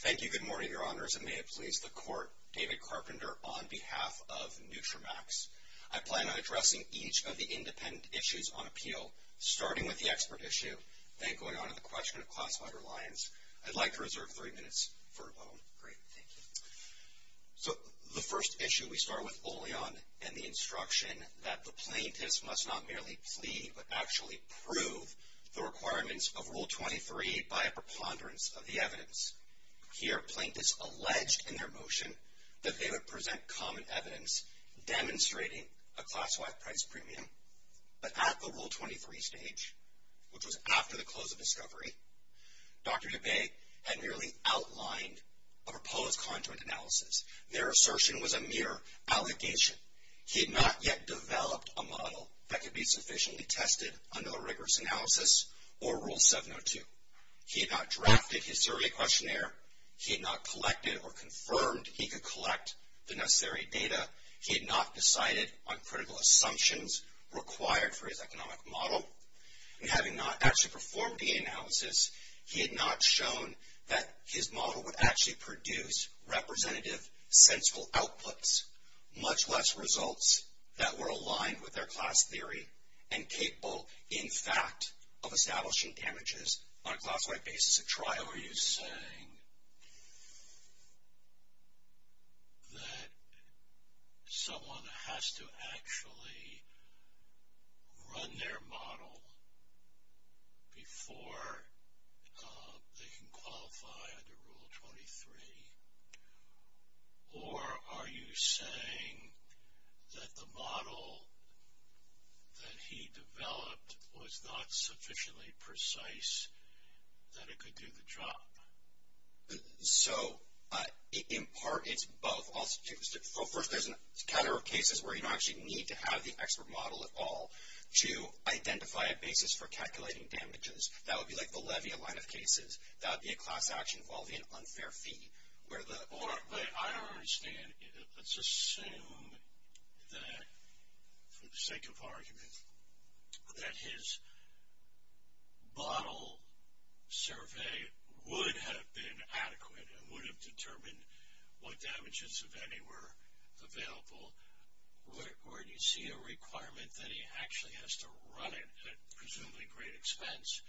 Thank you, good morning, Your Honors, and may it please the Court, David Carpenter on behalf of Nutramax, I plan on addressing each of the independent issues on appeal, starting with the expert issue, then going on to the question of classified reliance. I'd like to reserve three minutes for a moment. Great, thank you. So, the first issue, we start with Oleon and the instruction that the plaintiffs must not merely plead, but actually prove the requirements of Rule 23 by a preponderance of the evidence. Here, plaintiffs alleged in their motion that they would present common evidence demonstrating a class-wide price premium, but at the Rule 23 stage, which was after the close of discovery, Dr. Dubé had merely outlined a proposed conjugant analysis. Their assertion was a mere allegation. He had not yet developed a model that could be sufficiently tested under the rigorous analysis or Rule 702. He had not drafted his survey questionnaire. He had not collected or confirmed he could collect the necessary data. He had not decided on critical assumptions required for his economic model, and having not actually performed the analysis, he had not shown that his model would actually produce representative, sensible outputs, much less results that were aligned with their class theory and capable, in fact, of establishing damages on a class-wide basis of trial. Now, are you saying that someone has to actually run their model before they can qualify under Rule 23, or are you saying that the model that he developed was not sufficiently precise that it could do the job? So, in part, it's both. First, there's a category of cases where you don't actually need to have the expert model at all to identify a basis for calculating damages. That would be like the Levia line of cases. That would be a class-action involving an unfair fee, where the- But I don't understand. Let's assume that, for the sake of argument, that his model survey would have been adequate and would have determined what damages, if any, were available, or do you see a requirement that he actually has to run it at presumably great expense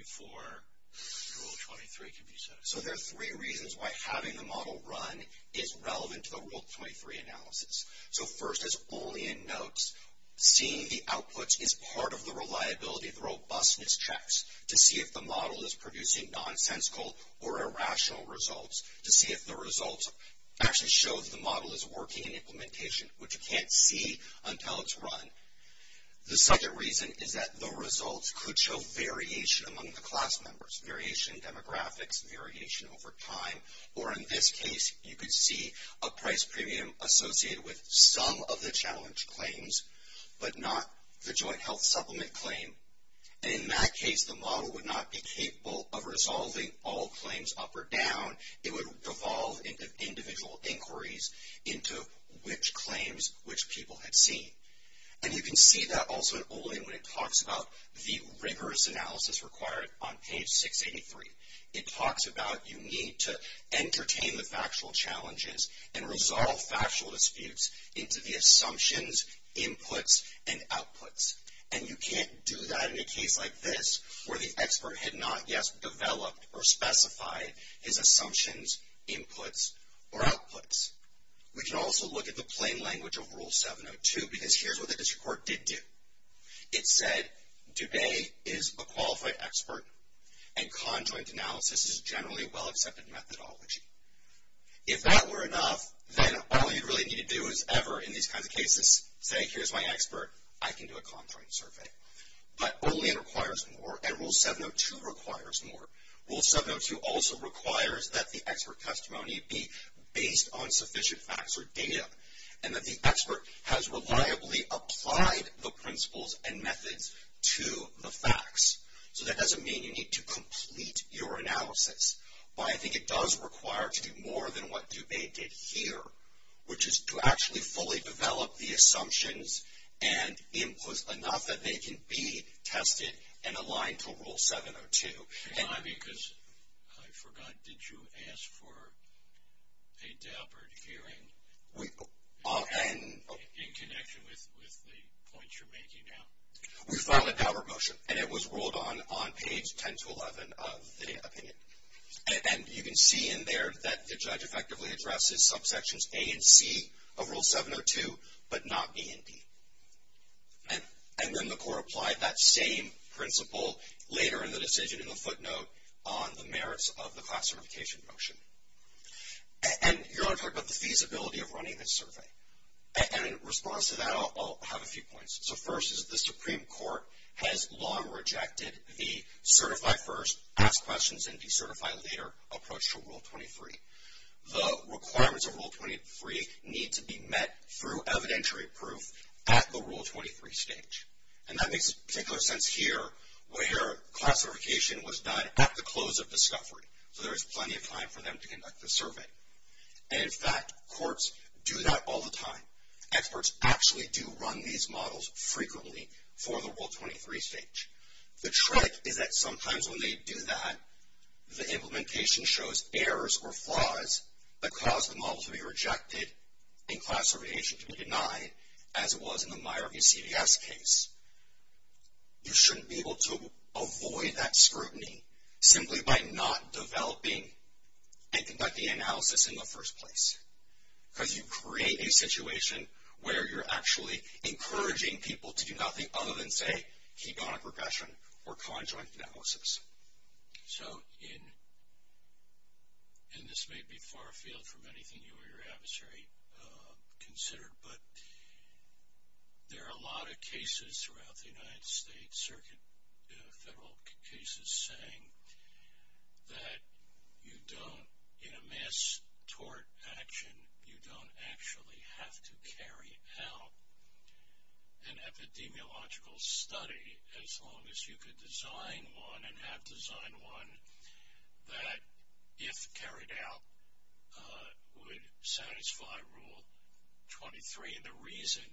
before Rule 23 can be set up? So, there are three reasons why having the model run is relevant to the Rule 23 analysis. So, first, as Olean notes, seeing the outputs is part of the reliability, the robustness checks to see if the model is producing nonsensical or irrational results, to see if the results actually show that the model is working in implementation, which you can't see until it's run. The second reason is that the results could show variation among the class members, variation in demographics, variation over time, or, in this case, you could see a price premium associated with some of the challenge claims, but not the joint health supplement claim. And in that case, the model would not be capable of resolving all claims up or down. It would devolve into individual inquiries into which claims which people had seen. And you can see that also in Olean when it talks about the rigorous analysis required on page 683. It talks about you need to entertain the factual challenges and resolve factual disputes into the assumptions, inputs, and outputs. And you can't do that in a case like this, where the expert had not yet developed or specified his assumptions, inputs, or outputs. We can also look at the plain language of Rule 702, because here's what the district court did do. It said, Dube is a qualified expert, and conjoint analysis is generally a well-accepted methodology. If that were enough, then all you'd really need to do is ever, in these kinds of cases, say here's my expert, I can do a conjoint survey. But Olean requires more, and Rule 702 requires more. Rule 702 also requires that the expert testimony be based on sufficient facts or data, and that the expert has reliably applied the principles and methods to the facts. So that doesn't mean you need to complete your analysis. But I think it does require to do more than what Dube did here, which is to actually fully develop the assumptions and inputs enough that they can be tested and aligned to Rule 702. And I'm because I forgot, did you ask for a dabbered hearing in connection with the points you're making now? We filed a dabber motion, and it was ruled on on page 10 to 11 of the opinion. And you can see in there that the judge effectively addresses subsections A and C of Rule 702, but not B and D. And when the court applied that same principle later in the decision in the footnote on the merits of the class certification motion. And you're going to talk about the feasibility of running this survey. And in response to that, I'll have a few points. So first is the Supreme Court has long rejected the certify first, ask questions, and decertify later approach to Rule 23. The requirements of Rule 23 need to be met through evidentiary proof at the Rule 23 stage. And that makes particular sense here, where classification was done at the close of discovery. So there is plenty of time for them to conduct the survey. And in fact, courts do that all the time. Experts actually do run these models frequently for the Rule 23 stage. The trick is that sometimes when they do that, the implementation shows errors or flaws that cause the model to be rejected and classification to be denied, as it was in the Myer v. CDS case. You shouldn't be able to avoid that scrutiny simply by not developing and conducting analysis in the first place, because you create a situation where you're actually encouraging people to do nothing other than, say, hedonic regression or conjoint analysis. So in this may be far-field from anything you or your adversary considered, but there are a lot of cases throughout the United States Circuit, federal cases, saying that in a mass tort action, you don't actually have to carry out an epidemiological study as long as you could design one and have design one that, if carried out, would satisfy Rule 23. And the reason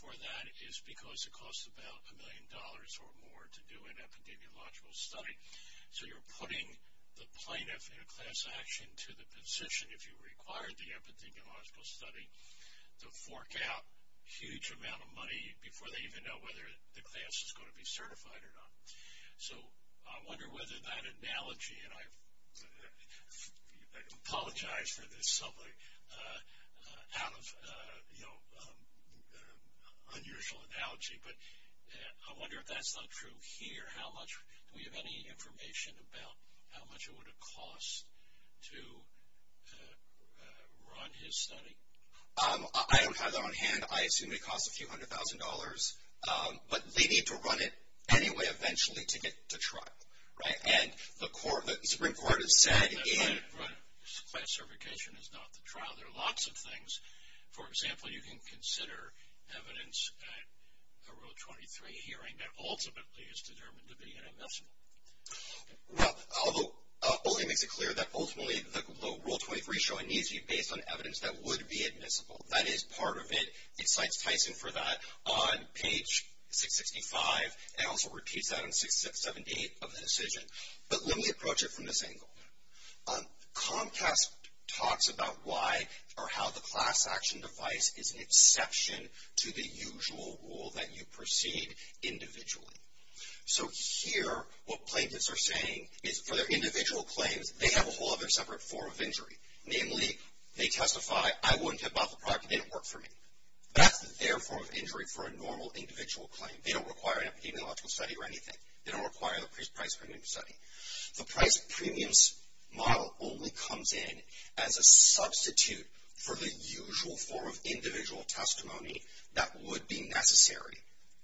for that is because it costs about a million dollars or more to do an epidemiological study. So you're putting the plaintiff in a class action to the position, if you require the epidemiological study, to fork out a huge amount of money before they even know whether the class is going to be certified or not. So I wonder whether that analogy, and I apologize for this out of unusual analogy, but I wonder if that's not true here. How much, do we have any information about how much it would have cost to run his study? I don't have that on hand. I assume it would cost a few hundred thousand dollars. But they need to run it anyway, eventually, to get to trial, right? And the Supreme Court has said in. Classification is not the trial. There are lots of things. For example, you can consider evidence at a Rule 23 hearing that ultimately is determined to be inadmissible. Well, although, it only makes it clear that ultimately the Rule 23 showing needs to be based on evidence that would be admissible. That is part of it. It cites Tyson for that on page 665 and also repeats that on 678 of the decision. But let me approach it from this angle. Comcast talks about why or how the class action device is an exception to the usual rule that you proceed individually. So here, what plaintiffs are saying is for their individual claims, they have a whole other separate form of injury. Namely, they testify, I wouldn't have bought the product if it didn't work for me. That's their form of injury for a normal individual claim. They don't require an epidemiological study or anything. They don't require the price premium study. The price premiums model only comes in as a substitute for the usual form of individual testimony that would be necessary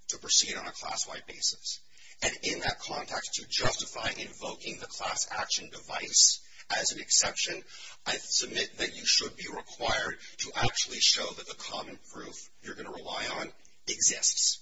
to proceed on a class-wide basis. And in that context, to justify invoking the class action device as an exception, I submit that you should be required to actually show that the common proof you're going to rely on exists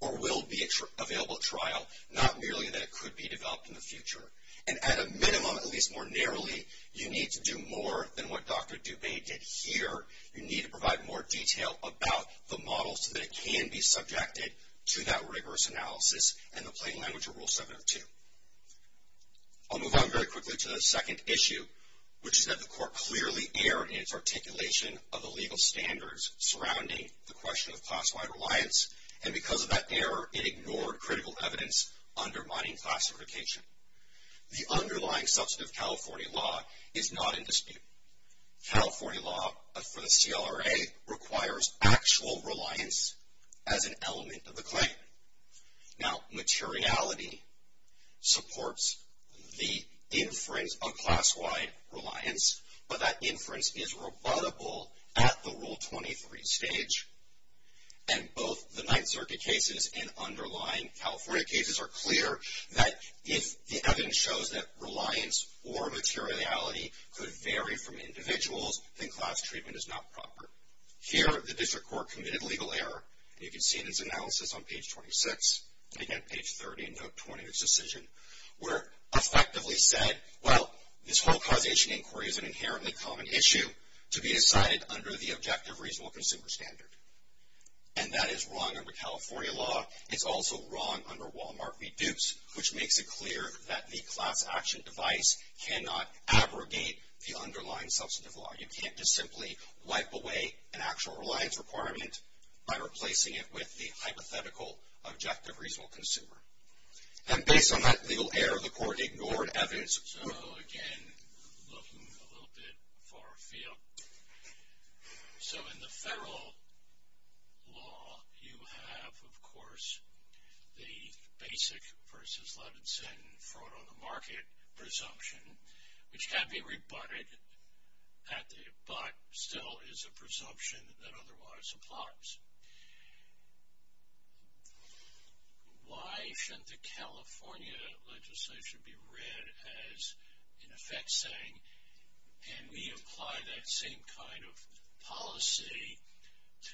or will be available at trial, not merely that it could be developed in the future. And at a minimum, at least more narrowly, you need to do more than what Dr. Dubé did here. You need to provide more detail about the model so that it can be subjected to that rigorous analysis and the plain language of Rule 702. I'll move on very quickly to the second issue, which is that the court clearly erred in its articulation of the legal standards surrounding the question of class-wide reliance. And because of that error, it ignored critical evidence undermining classification. The underlying substantive California law is not in dispute. California law for the CLRA requires actual reliance as an element of the claim. Now, materiality supports the inference of class-wide reliance, but that inference is rebuttable at the Rule 23 stage. And both the Ninth Circuit cases and underlying California cases are clear that if the evidence shows that reliance or materiality could vary from individuals, then class treatment is not proper. Here, the district court committed legal error, and you can see this analysis on page 26, and again page 30 in note 20 of its decision, where effectively said, well, this whole causation inquiry is an inherently common issue to be decided under the objective reasonable consumer standard. And that is wrong under California law. It's also wrong under Walmart Reduce, which makes it clear that the class action device cannot abrogate the underlying substantive law. You can't just simply wipe away an actual reliance requirement by replacing it with the hypothetical objective reasonable consumer. And based on that legal error, the court ignored evidence. So, again, looking a little bit far afield. So, in the federal law, you have, of course, the basic versus Levinson fraud on the market presumption, which can be rebutted at the, but still is a presumption that otherwise applies. Why shouldn't the California legislation be read as, in effect, saying, can we apply that same kind of policy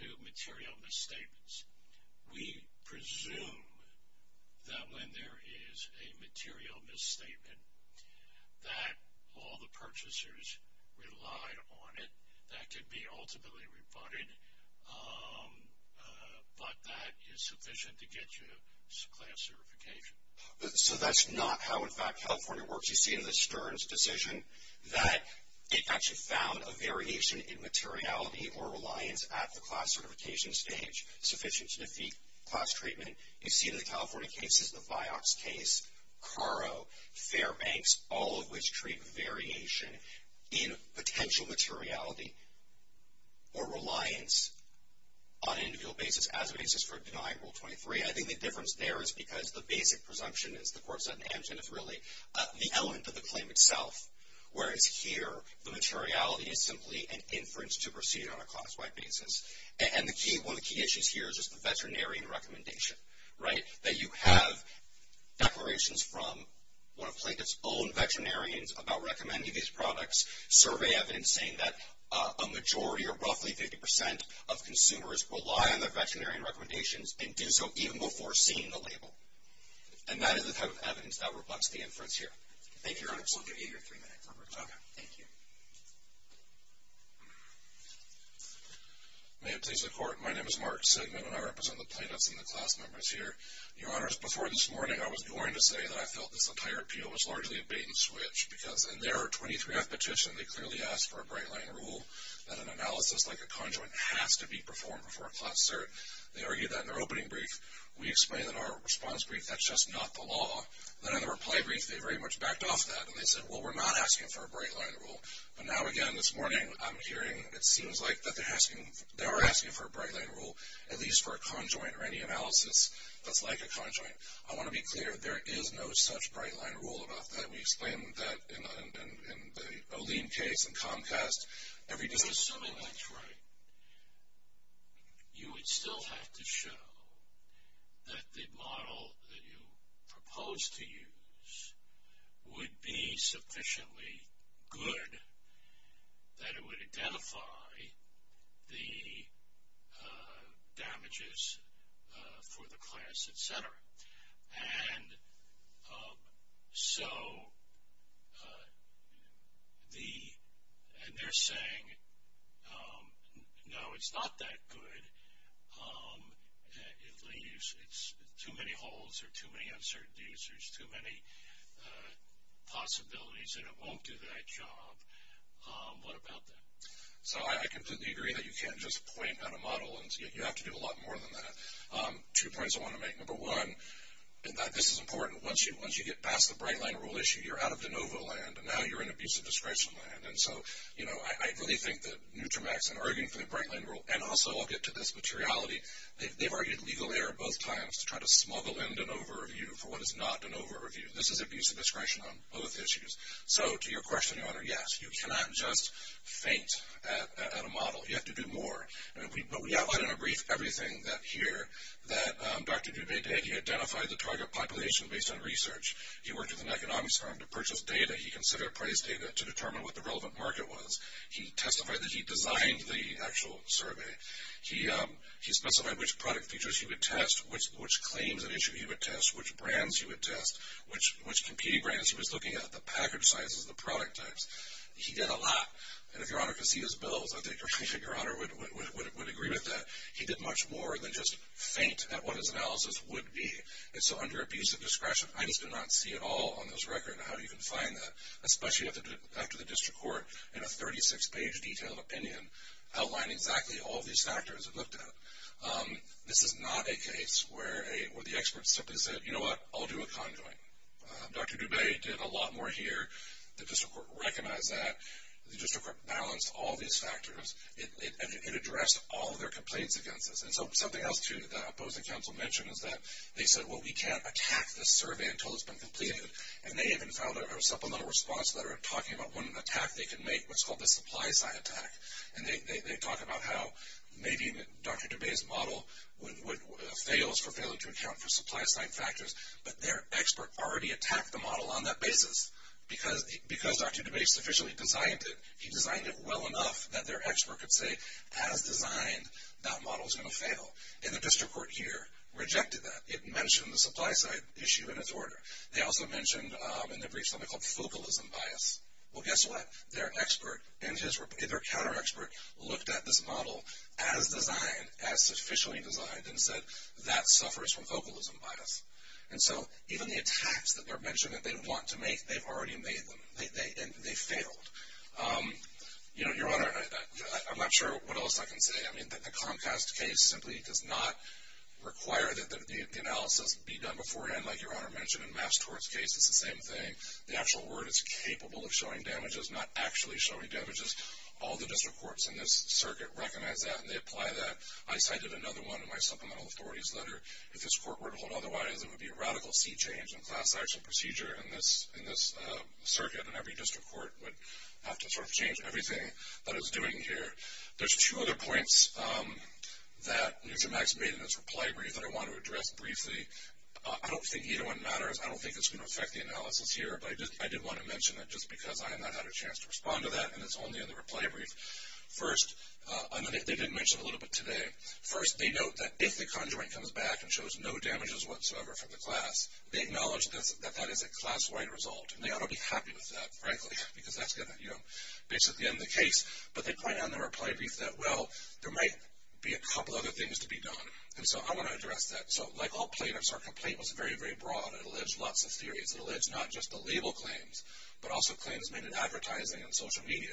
to material misstatements? We presume that when there is a material misstatement that all the purchasers relied on it, that could be ultimately rebutted, but that is sufficient to get you class certification. So, that's not how, in fact, California works. You see in the Stearns decision that it actually found a variation in materiality or reliance at the class certification stage sufficient to defeat class treatment. You see in the California cases, the Vioxx case, Caro, Fairbanks, all of which treat variation in potential materiality or reliance on an individual basis as a basis for denying Rule 23. I think the difference there is because the basic presumption is, the court said in Hampton, is really the element of the claim itself, whereas here, the materiality is simply an inference to proceed on a class-wide basis. And the key, one of the key issues here is just the veterinarian recommendation, right? That you have declarations from one of plaintiff's own veterinarians about recommending these products, survey evidence saying that a majority or roughly 50% of consumers rely on their veterinarian recommendations and do so even before seeing the label. And that is the type of evidence that reflects the inference here. Thank you, Your Honor. We'll give you your three minutes, Robert. Okay. Thank you. May it please the Court. My name is Mark Sigmund and I represent the plaintiffs and the class members here. Your Honors, before this morning, I was going to say that I felt this entire appeal was largely a bait and switch because in their 23th petition, they clearly asked for a bright-line rule that an analysis like a conjoint has to be performed before a class cert. They argued that in their opening brief. We explained in our response brief that's just not the law. Then in the reply brief, they very much backed off that and they said, well, we're not asking for a bright-line rule. But now again, this morning, I'm hearing it seems like that they're asking, they are asking for a bright-line rule, at least for a conjoint or any analysis that's like a conjoint. I want to be clear, there is no such bright-line rule about that. We explained that in the O'Lean case and Comcast. Every decision is a bright-line rule. I'm just assuming that's right. You would still have to show that the model that you proposed to use would be sufficiently good that it would identify the damages for the class, et cetera. And so, the, and they're saying, no, it's not that good, it leaves, it's too many holes or too many uncertainties, there's too many possibilities and it won't do that job. What about that? So, I completely agree that you can't just point at a model and you have to do a lot more than that. Two points I want to make, number one, this is important. Once you get past the bright-line rule issue, you're out of de novo land and now you're in abuse of discretion land. And so, you know, I really think that Nutramax in arguing for the bright-line rule and also I'll get to this materiality, they've argued legal error both times to try to smuggle in de novo review for what is not de novo review. This is abuse of discretion on both issues. So, to your question, your honor, yes, you cannot just faint at a model, you have to do more. And we, but we outlined in a brief everything that here that Dr. Dubay-Dagy identified the target population based on research. He worked with an economics firm to purchase data. He considered price data to determine what the relevant market was. He testified that he designed the actual survey. He specified which product features he would test, which claims and issue he would test, which brands he would test, which competing brands he was looking at, the package sizes, the product types. He did a lot. And if your honor could see his bills, I think your honor would agree with that. He did much more than just faint at what his analysis would be. And so, under abuse of discretion, I just did not see at all on this record how you can find that, especially after the district court in a 36-page detailed opinion outlined exactly all these factors it looked at. This is not a case where the expert simply said, you know what, I'll do a conjoint. Dr. Dubay did a lot more here. The district court recognized that. The district court balanced all these factors. It addressed all their complaints against this. And so, something else, too, that the opposing counsel mentioned is that they said, well, we can't attack this survey until it's been completed. And they even filed a supplemental response letter talking about one attack they can make, what's called the supply side attack. And they talk about how maybe Dr. Dubay's model fails for failing to account for supply side factors, but their expert already attacked the model on that basis. Because Dr. Dubay sufficiently designed it, he designed it well enough that their expert could say, as designed, that model's going to fail. And the district court here rejected that. It mentioned the supply side issue in its order. They also mentioned in their brief something called focalism bias. Well, guess what? Their expert and their counter-expert looked at this model as designed, as sufficiently designed, and said that suffers from focalism bias. And so, even the attacks that they're mentioning that they want to make, they've already made them, and they failed. You know, Your Honor, I'm not sure what else I can say. I mean, the Comcast case simply does not require that the analysis be done beforehand, like Your Honor mentioned, in Mass Tort's case. It's the same thing. The actual word is capable of showing damages, not actually showing damages. All the district courts in this circuit recognize that, and they apply that. I cited another one in my supplemental authorities letter. If this court were to hold otherwise, it would be a radical C change in class action procedure in this circuit. And every district court would have to sort of change everything that it's doing here. There's two other points that Mr. Max made in his reply brief that I want to address briefly. I don't think either one matters. I don't think it's going to affect the analysis here. But I did want to mention that just because I have not had a chance to respond to that, and it's only in the reply brief. First, and they did mention a little bit today. First, they note that if the conjoint comes back and shows no damages whatsoever from the class, they acknowledge that that is a class-wide result. And they ought to be happy with that, frankly, because that's going to, you know, basically end the case. But they point out in their reply brief that, well, there might be a couple other things to be done. And so I want to address that. So like all plaintiffs, our complaint was very, very broad. It alleged lots of theories. It alleged not just the label claims, but also claims made in advertising and social media.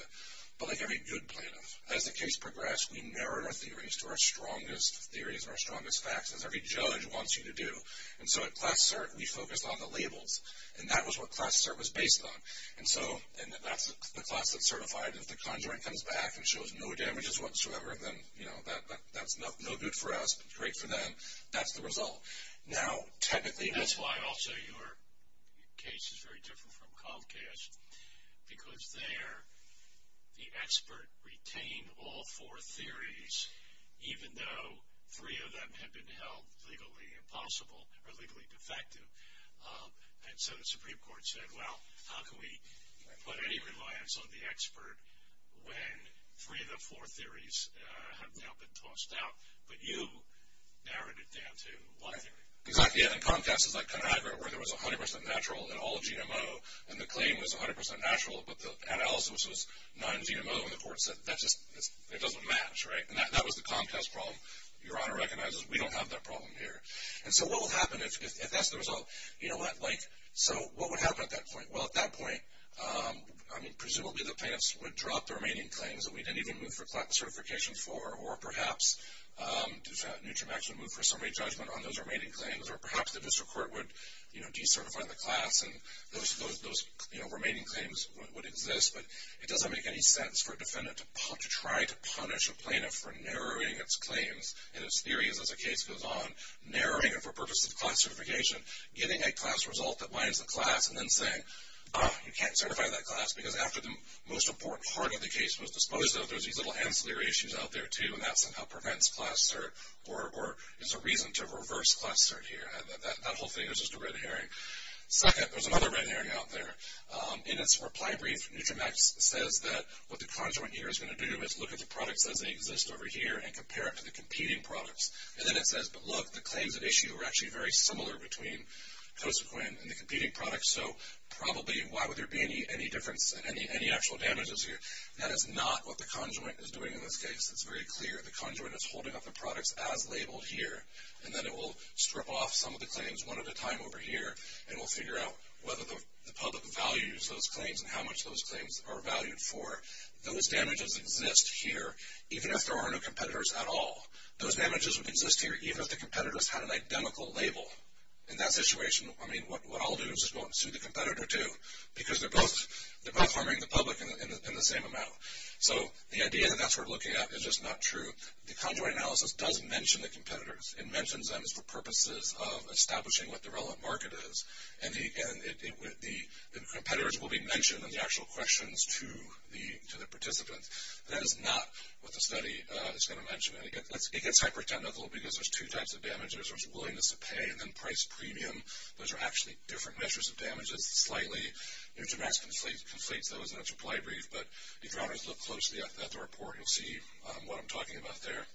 But like every good plaintiff, as the case progressed, we narrowed our theories to our strongest theories and our strongest facts, as every judge wants you to do. And so at Class Cert, we focused on the labels, and that was what Class Cert was based on. And so, and that's the class that's certified. If the conjoint comes back and shows no damages whatsoever, then, you know, that's no good for us, but great for them. That's the result. Now, technically, that's why also your case is very different from Comcast, because there the expert retained all four theories, even though three of them had been held legally impossible, or legally defective. And so the Supreme Court said, well, how can we put any reliance on the expert when three of the four theories have now been tossed out? But you narrowed it down to one theory. Exactly. And Comcast is like Conagra, where there was 100% natural in all of GMO, and the claim was 100% natural, but the analysis was non-GMO, and the court said, that's just, it doesn't match, right? And that was the Comcast problem. Your Honor recognizes, we don't have that problem here. And so what will happen if that's the result? You know what, like, so what would happen at that point? Well, at that point, I mean, presumably the plaintiffs would drop the remaining claims that we didn't even move for Class Certification for, or perhaps Newterm actually moved for summary judgment on those remaining claims, or perhaps the district court would, you know, decertify the class, and those, you know, remaining claims would exist. But it doesn't make any sense for a defendant to try to punish a plaintiff for narrowing its claims, and its theory is, as the case goes on, narrowing it for purposes of Class Certification, getting a class result that winds the class, and then saying, ah, you can't certify that class, because after the most important part of the case was disposed of, there's these little ancillary issues out there, too, and that somehow prevents Class Cert, or is a reason to reverse Class Cert here. That whole thing is just a red herring. Second, there's another red herring out there. In its reply brief, Newtermax says that what the conjoint here is going to do is look at the products as they exist over here, and compare it to the competing products, and then it says, but look, the claims at issue are actually very similar between Cosequin and the competing products, so probably, why would there be any difference, any actual damages here? That is not what the conjoint is doing in this case. It's very clear. The conjoint is holding up the products as labeled here, and then it will strip off some of the claims one at a time over here, and we'll figure out whether the public values those claims, and how much those claims are valued for. Those damages exist here, even if there are no competitors at all. Those damages would exist here, even if the competitors had an identical label. In that situation, I mean, what I'll do is just go up and sue the competitor, too, because they're both harming the public in the same amount. So, the idea that that's what we're looking at is just not true. The conjoint analysis does mention the competitors. It mentions them for purposes of establishing what the relevant market is, and the competitors will be mentioned, and the actual questions to the participants. That is not what the study is going to mention, and it gets hyper technical, because there's two types of damages. There's willingness to pay, and then price premium. Those are actually different measures of damages, slightly. Intermax conflates those in a supply brief, but if you want to look closely at the report, you'll see what I'm talking about there.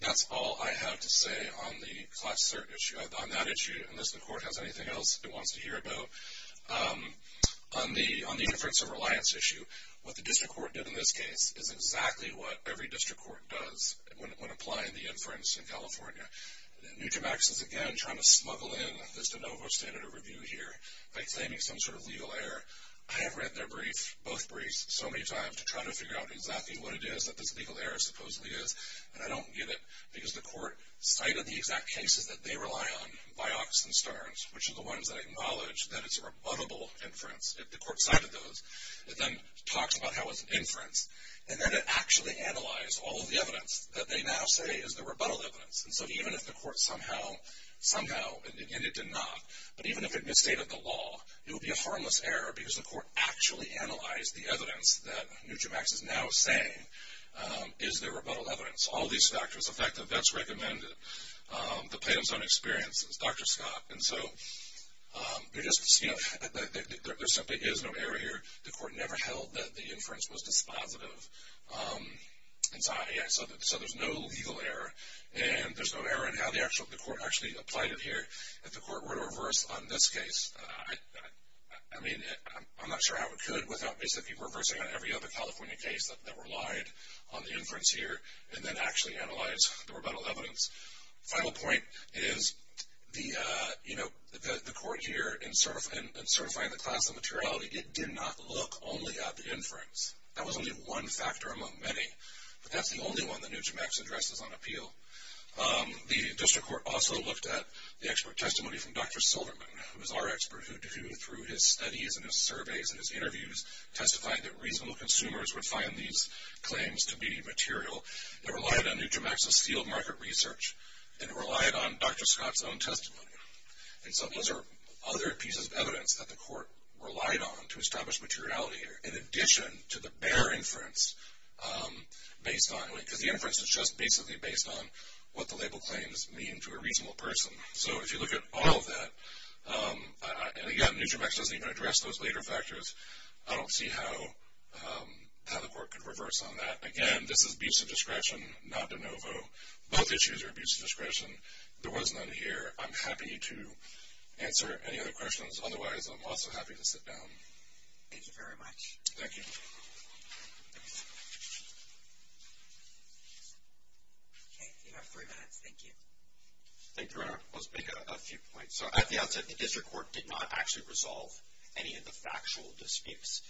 That's all I have to say on the class cert issue, on that issue, unless the court has anything else it wants to hear about. On the inference of reliance issue, what the district court did in this case is exactly what every district court does when applying the inference in California. Intermax is, again, trying to smuggle in this de novo standard of review here by claiming some sort of legal error. I have read their brief, both briefs, so many times to try to figure out exactly what it is that this legal error supposedly is, and I don't get it, because the court cited the exact cases that they rely on, Vioxx and Stearns, which are the ones that acknowledge that it's a rebuttable inference, if the court cited those. It then talks about how it's an inference, and then it actually analyzed all of the evidence that they now say is the rebuttal evidence, and so even if the court somehow, somehow, and it did not, but even if it misstated the law, it would be a harmless error, because the court actually analyzed the evidence that Intermax is now saying is the rebuttal evidence. All these factors, the fact that that's recommended depends on experiences, Dr. Scott, and so, you just, you know, there simply is no error here. The court never held that the inference was dispositive, and so, yeah, so there's no legal error, and there's no error in how the court actually applied it here. If the court were to reverse on this case, I mean, I'm not sure how it could without basically reversing on every other California case that relied on the inference here, and then actually analyze the rebuttal evidence. Final point is the, you know, the court here in certifying the class of materiality did not look only at the inference. That was only one factor among many, but that's the only one that Intermax addresses on appeal. The district court also looked at the expert testimony from Dr. Silverman, who is our expert, who, through his studies, and his surveys, and his interviews, testified that reasonable consumers would find these claims to be material. It relied on Nutramax's field market research, and it relied on Dr. Scott's own testimony, and so those are other pieces of evidence that the court relied on to establish materiality in addition to the bare inference based on, because the inference is just basically based on what the label claims mean to a reasonable person. So, if you look at all of that, and again, Nutramax doesn't even address those later factors. I don't see how the court could reverse on that. Again, this is abuse of discretion, not de novo. Both issues are abuse of discretion. There was none here. I'm happy to answer any other questions. Otherwise, I'm also happy to sit down. Thank you very much. Thank you. Okay, you have three minutes. Thank you. Thank you, Renner. Let's make a few points. So, at the outset, the district court did not actually resolve any of the factual disputes.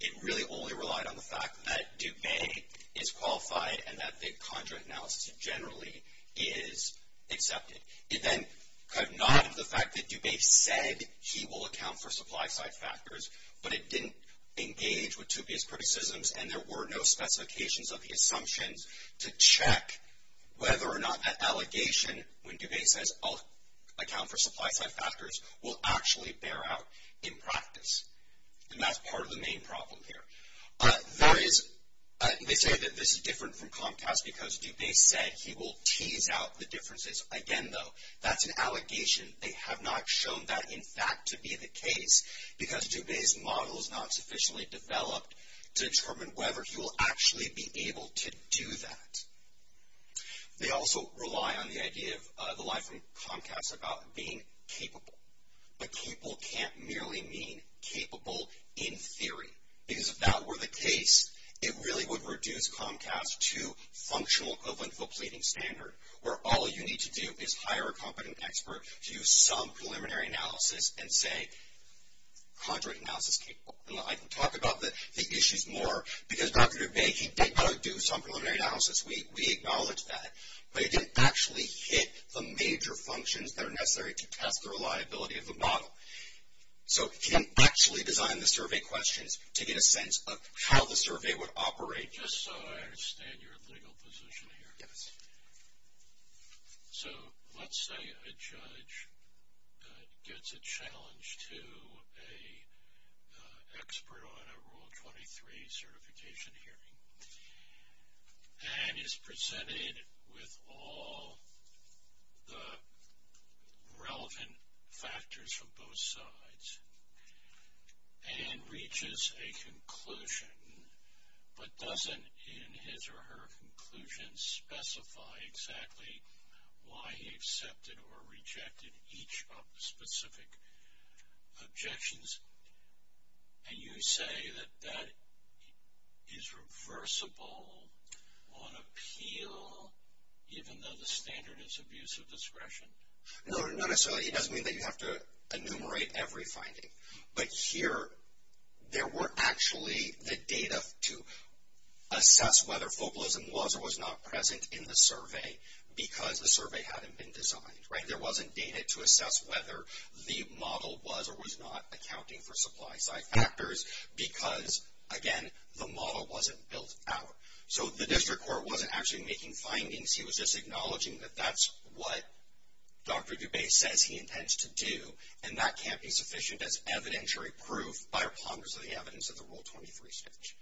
It really only relied on the fact that Dubay is qualified and that the conjoint analysis generally is accepted. It then kind of nodded to the fact that Dubay said he will account for supply-side factors, but it didn't engage with Toupia's criticisms, and there were no specifications of the assumptions to check whether or not that allegation, when Dubay says, I'll account for supply-side factors, will actually bear out in practice. And that's part of the main problem here. There is, they say that this is different from Comcast because Dubay said he will tease out the differences. Again, though, that's an allegation. They have not shown that, in fact, to be the case because Dubay's model is not sufficiently developed to determine whether he will actually be able to do that. They also rely on the idea of the lie from Comcast about being capable, but capable can't merely mean capable in theory. Because if that were the case, it really would reduce Comcast to functional covalent full pleading standard, where all you need to do is hire a competent expert to do some preliminary analysis and say conjoint analysis capable. And I can talk about the issues more because Dr. Dubay, he did not do some preliminary analysis. We acknowledge that, but it didn't actually hit the major functions that are necessary to test the reliability of the model. So, he didn't actually design the survey questions to get a sense of how the survey would operate. Just so I understand your legal position here. Yes. So, let's say a judge gets a challenge to an expert on a Rule 23 certification hearing and is presented with all the relevant factors from both sides and reaches a conclusion, but doesn't in his or her conclusion specify exactly why he accepted or rejected each of the specific objections. Can you say that that is reversible on appeal, even though the standard is abuse of discretion? No, not necessarily. It doesn't mean that you have to enumerate every finding. But here, there were actually the data to assess whether focalism was or was not present in the survey because the survey hadn't been designed, right? There wasn't data to assess whether the model was or was not accounting for supply-side factors because, again, the model wasn't built out. So, the district court wasn't actually making findings. He was just acknowledging that that's what Dr. Dubay says he intends to do, and that can't be sufficient as evidentiary proof by a ponderance of the evidence of the Rule 23 statute.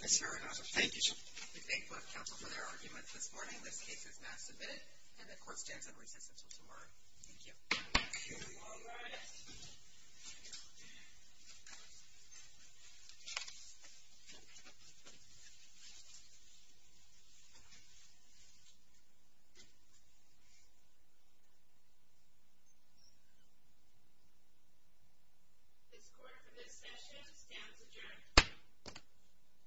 Thank you, sir. We thank both counsel for their arguments this morning. This case is now submitted, and the court stands on recess until tomorrow. Thank you. Thank you. All rise. This court for this session stands adjourned.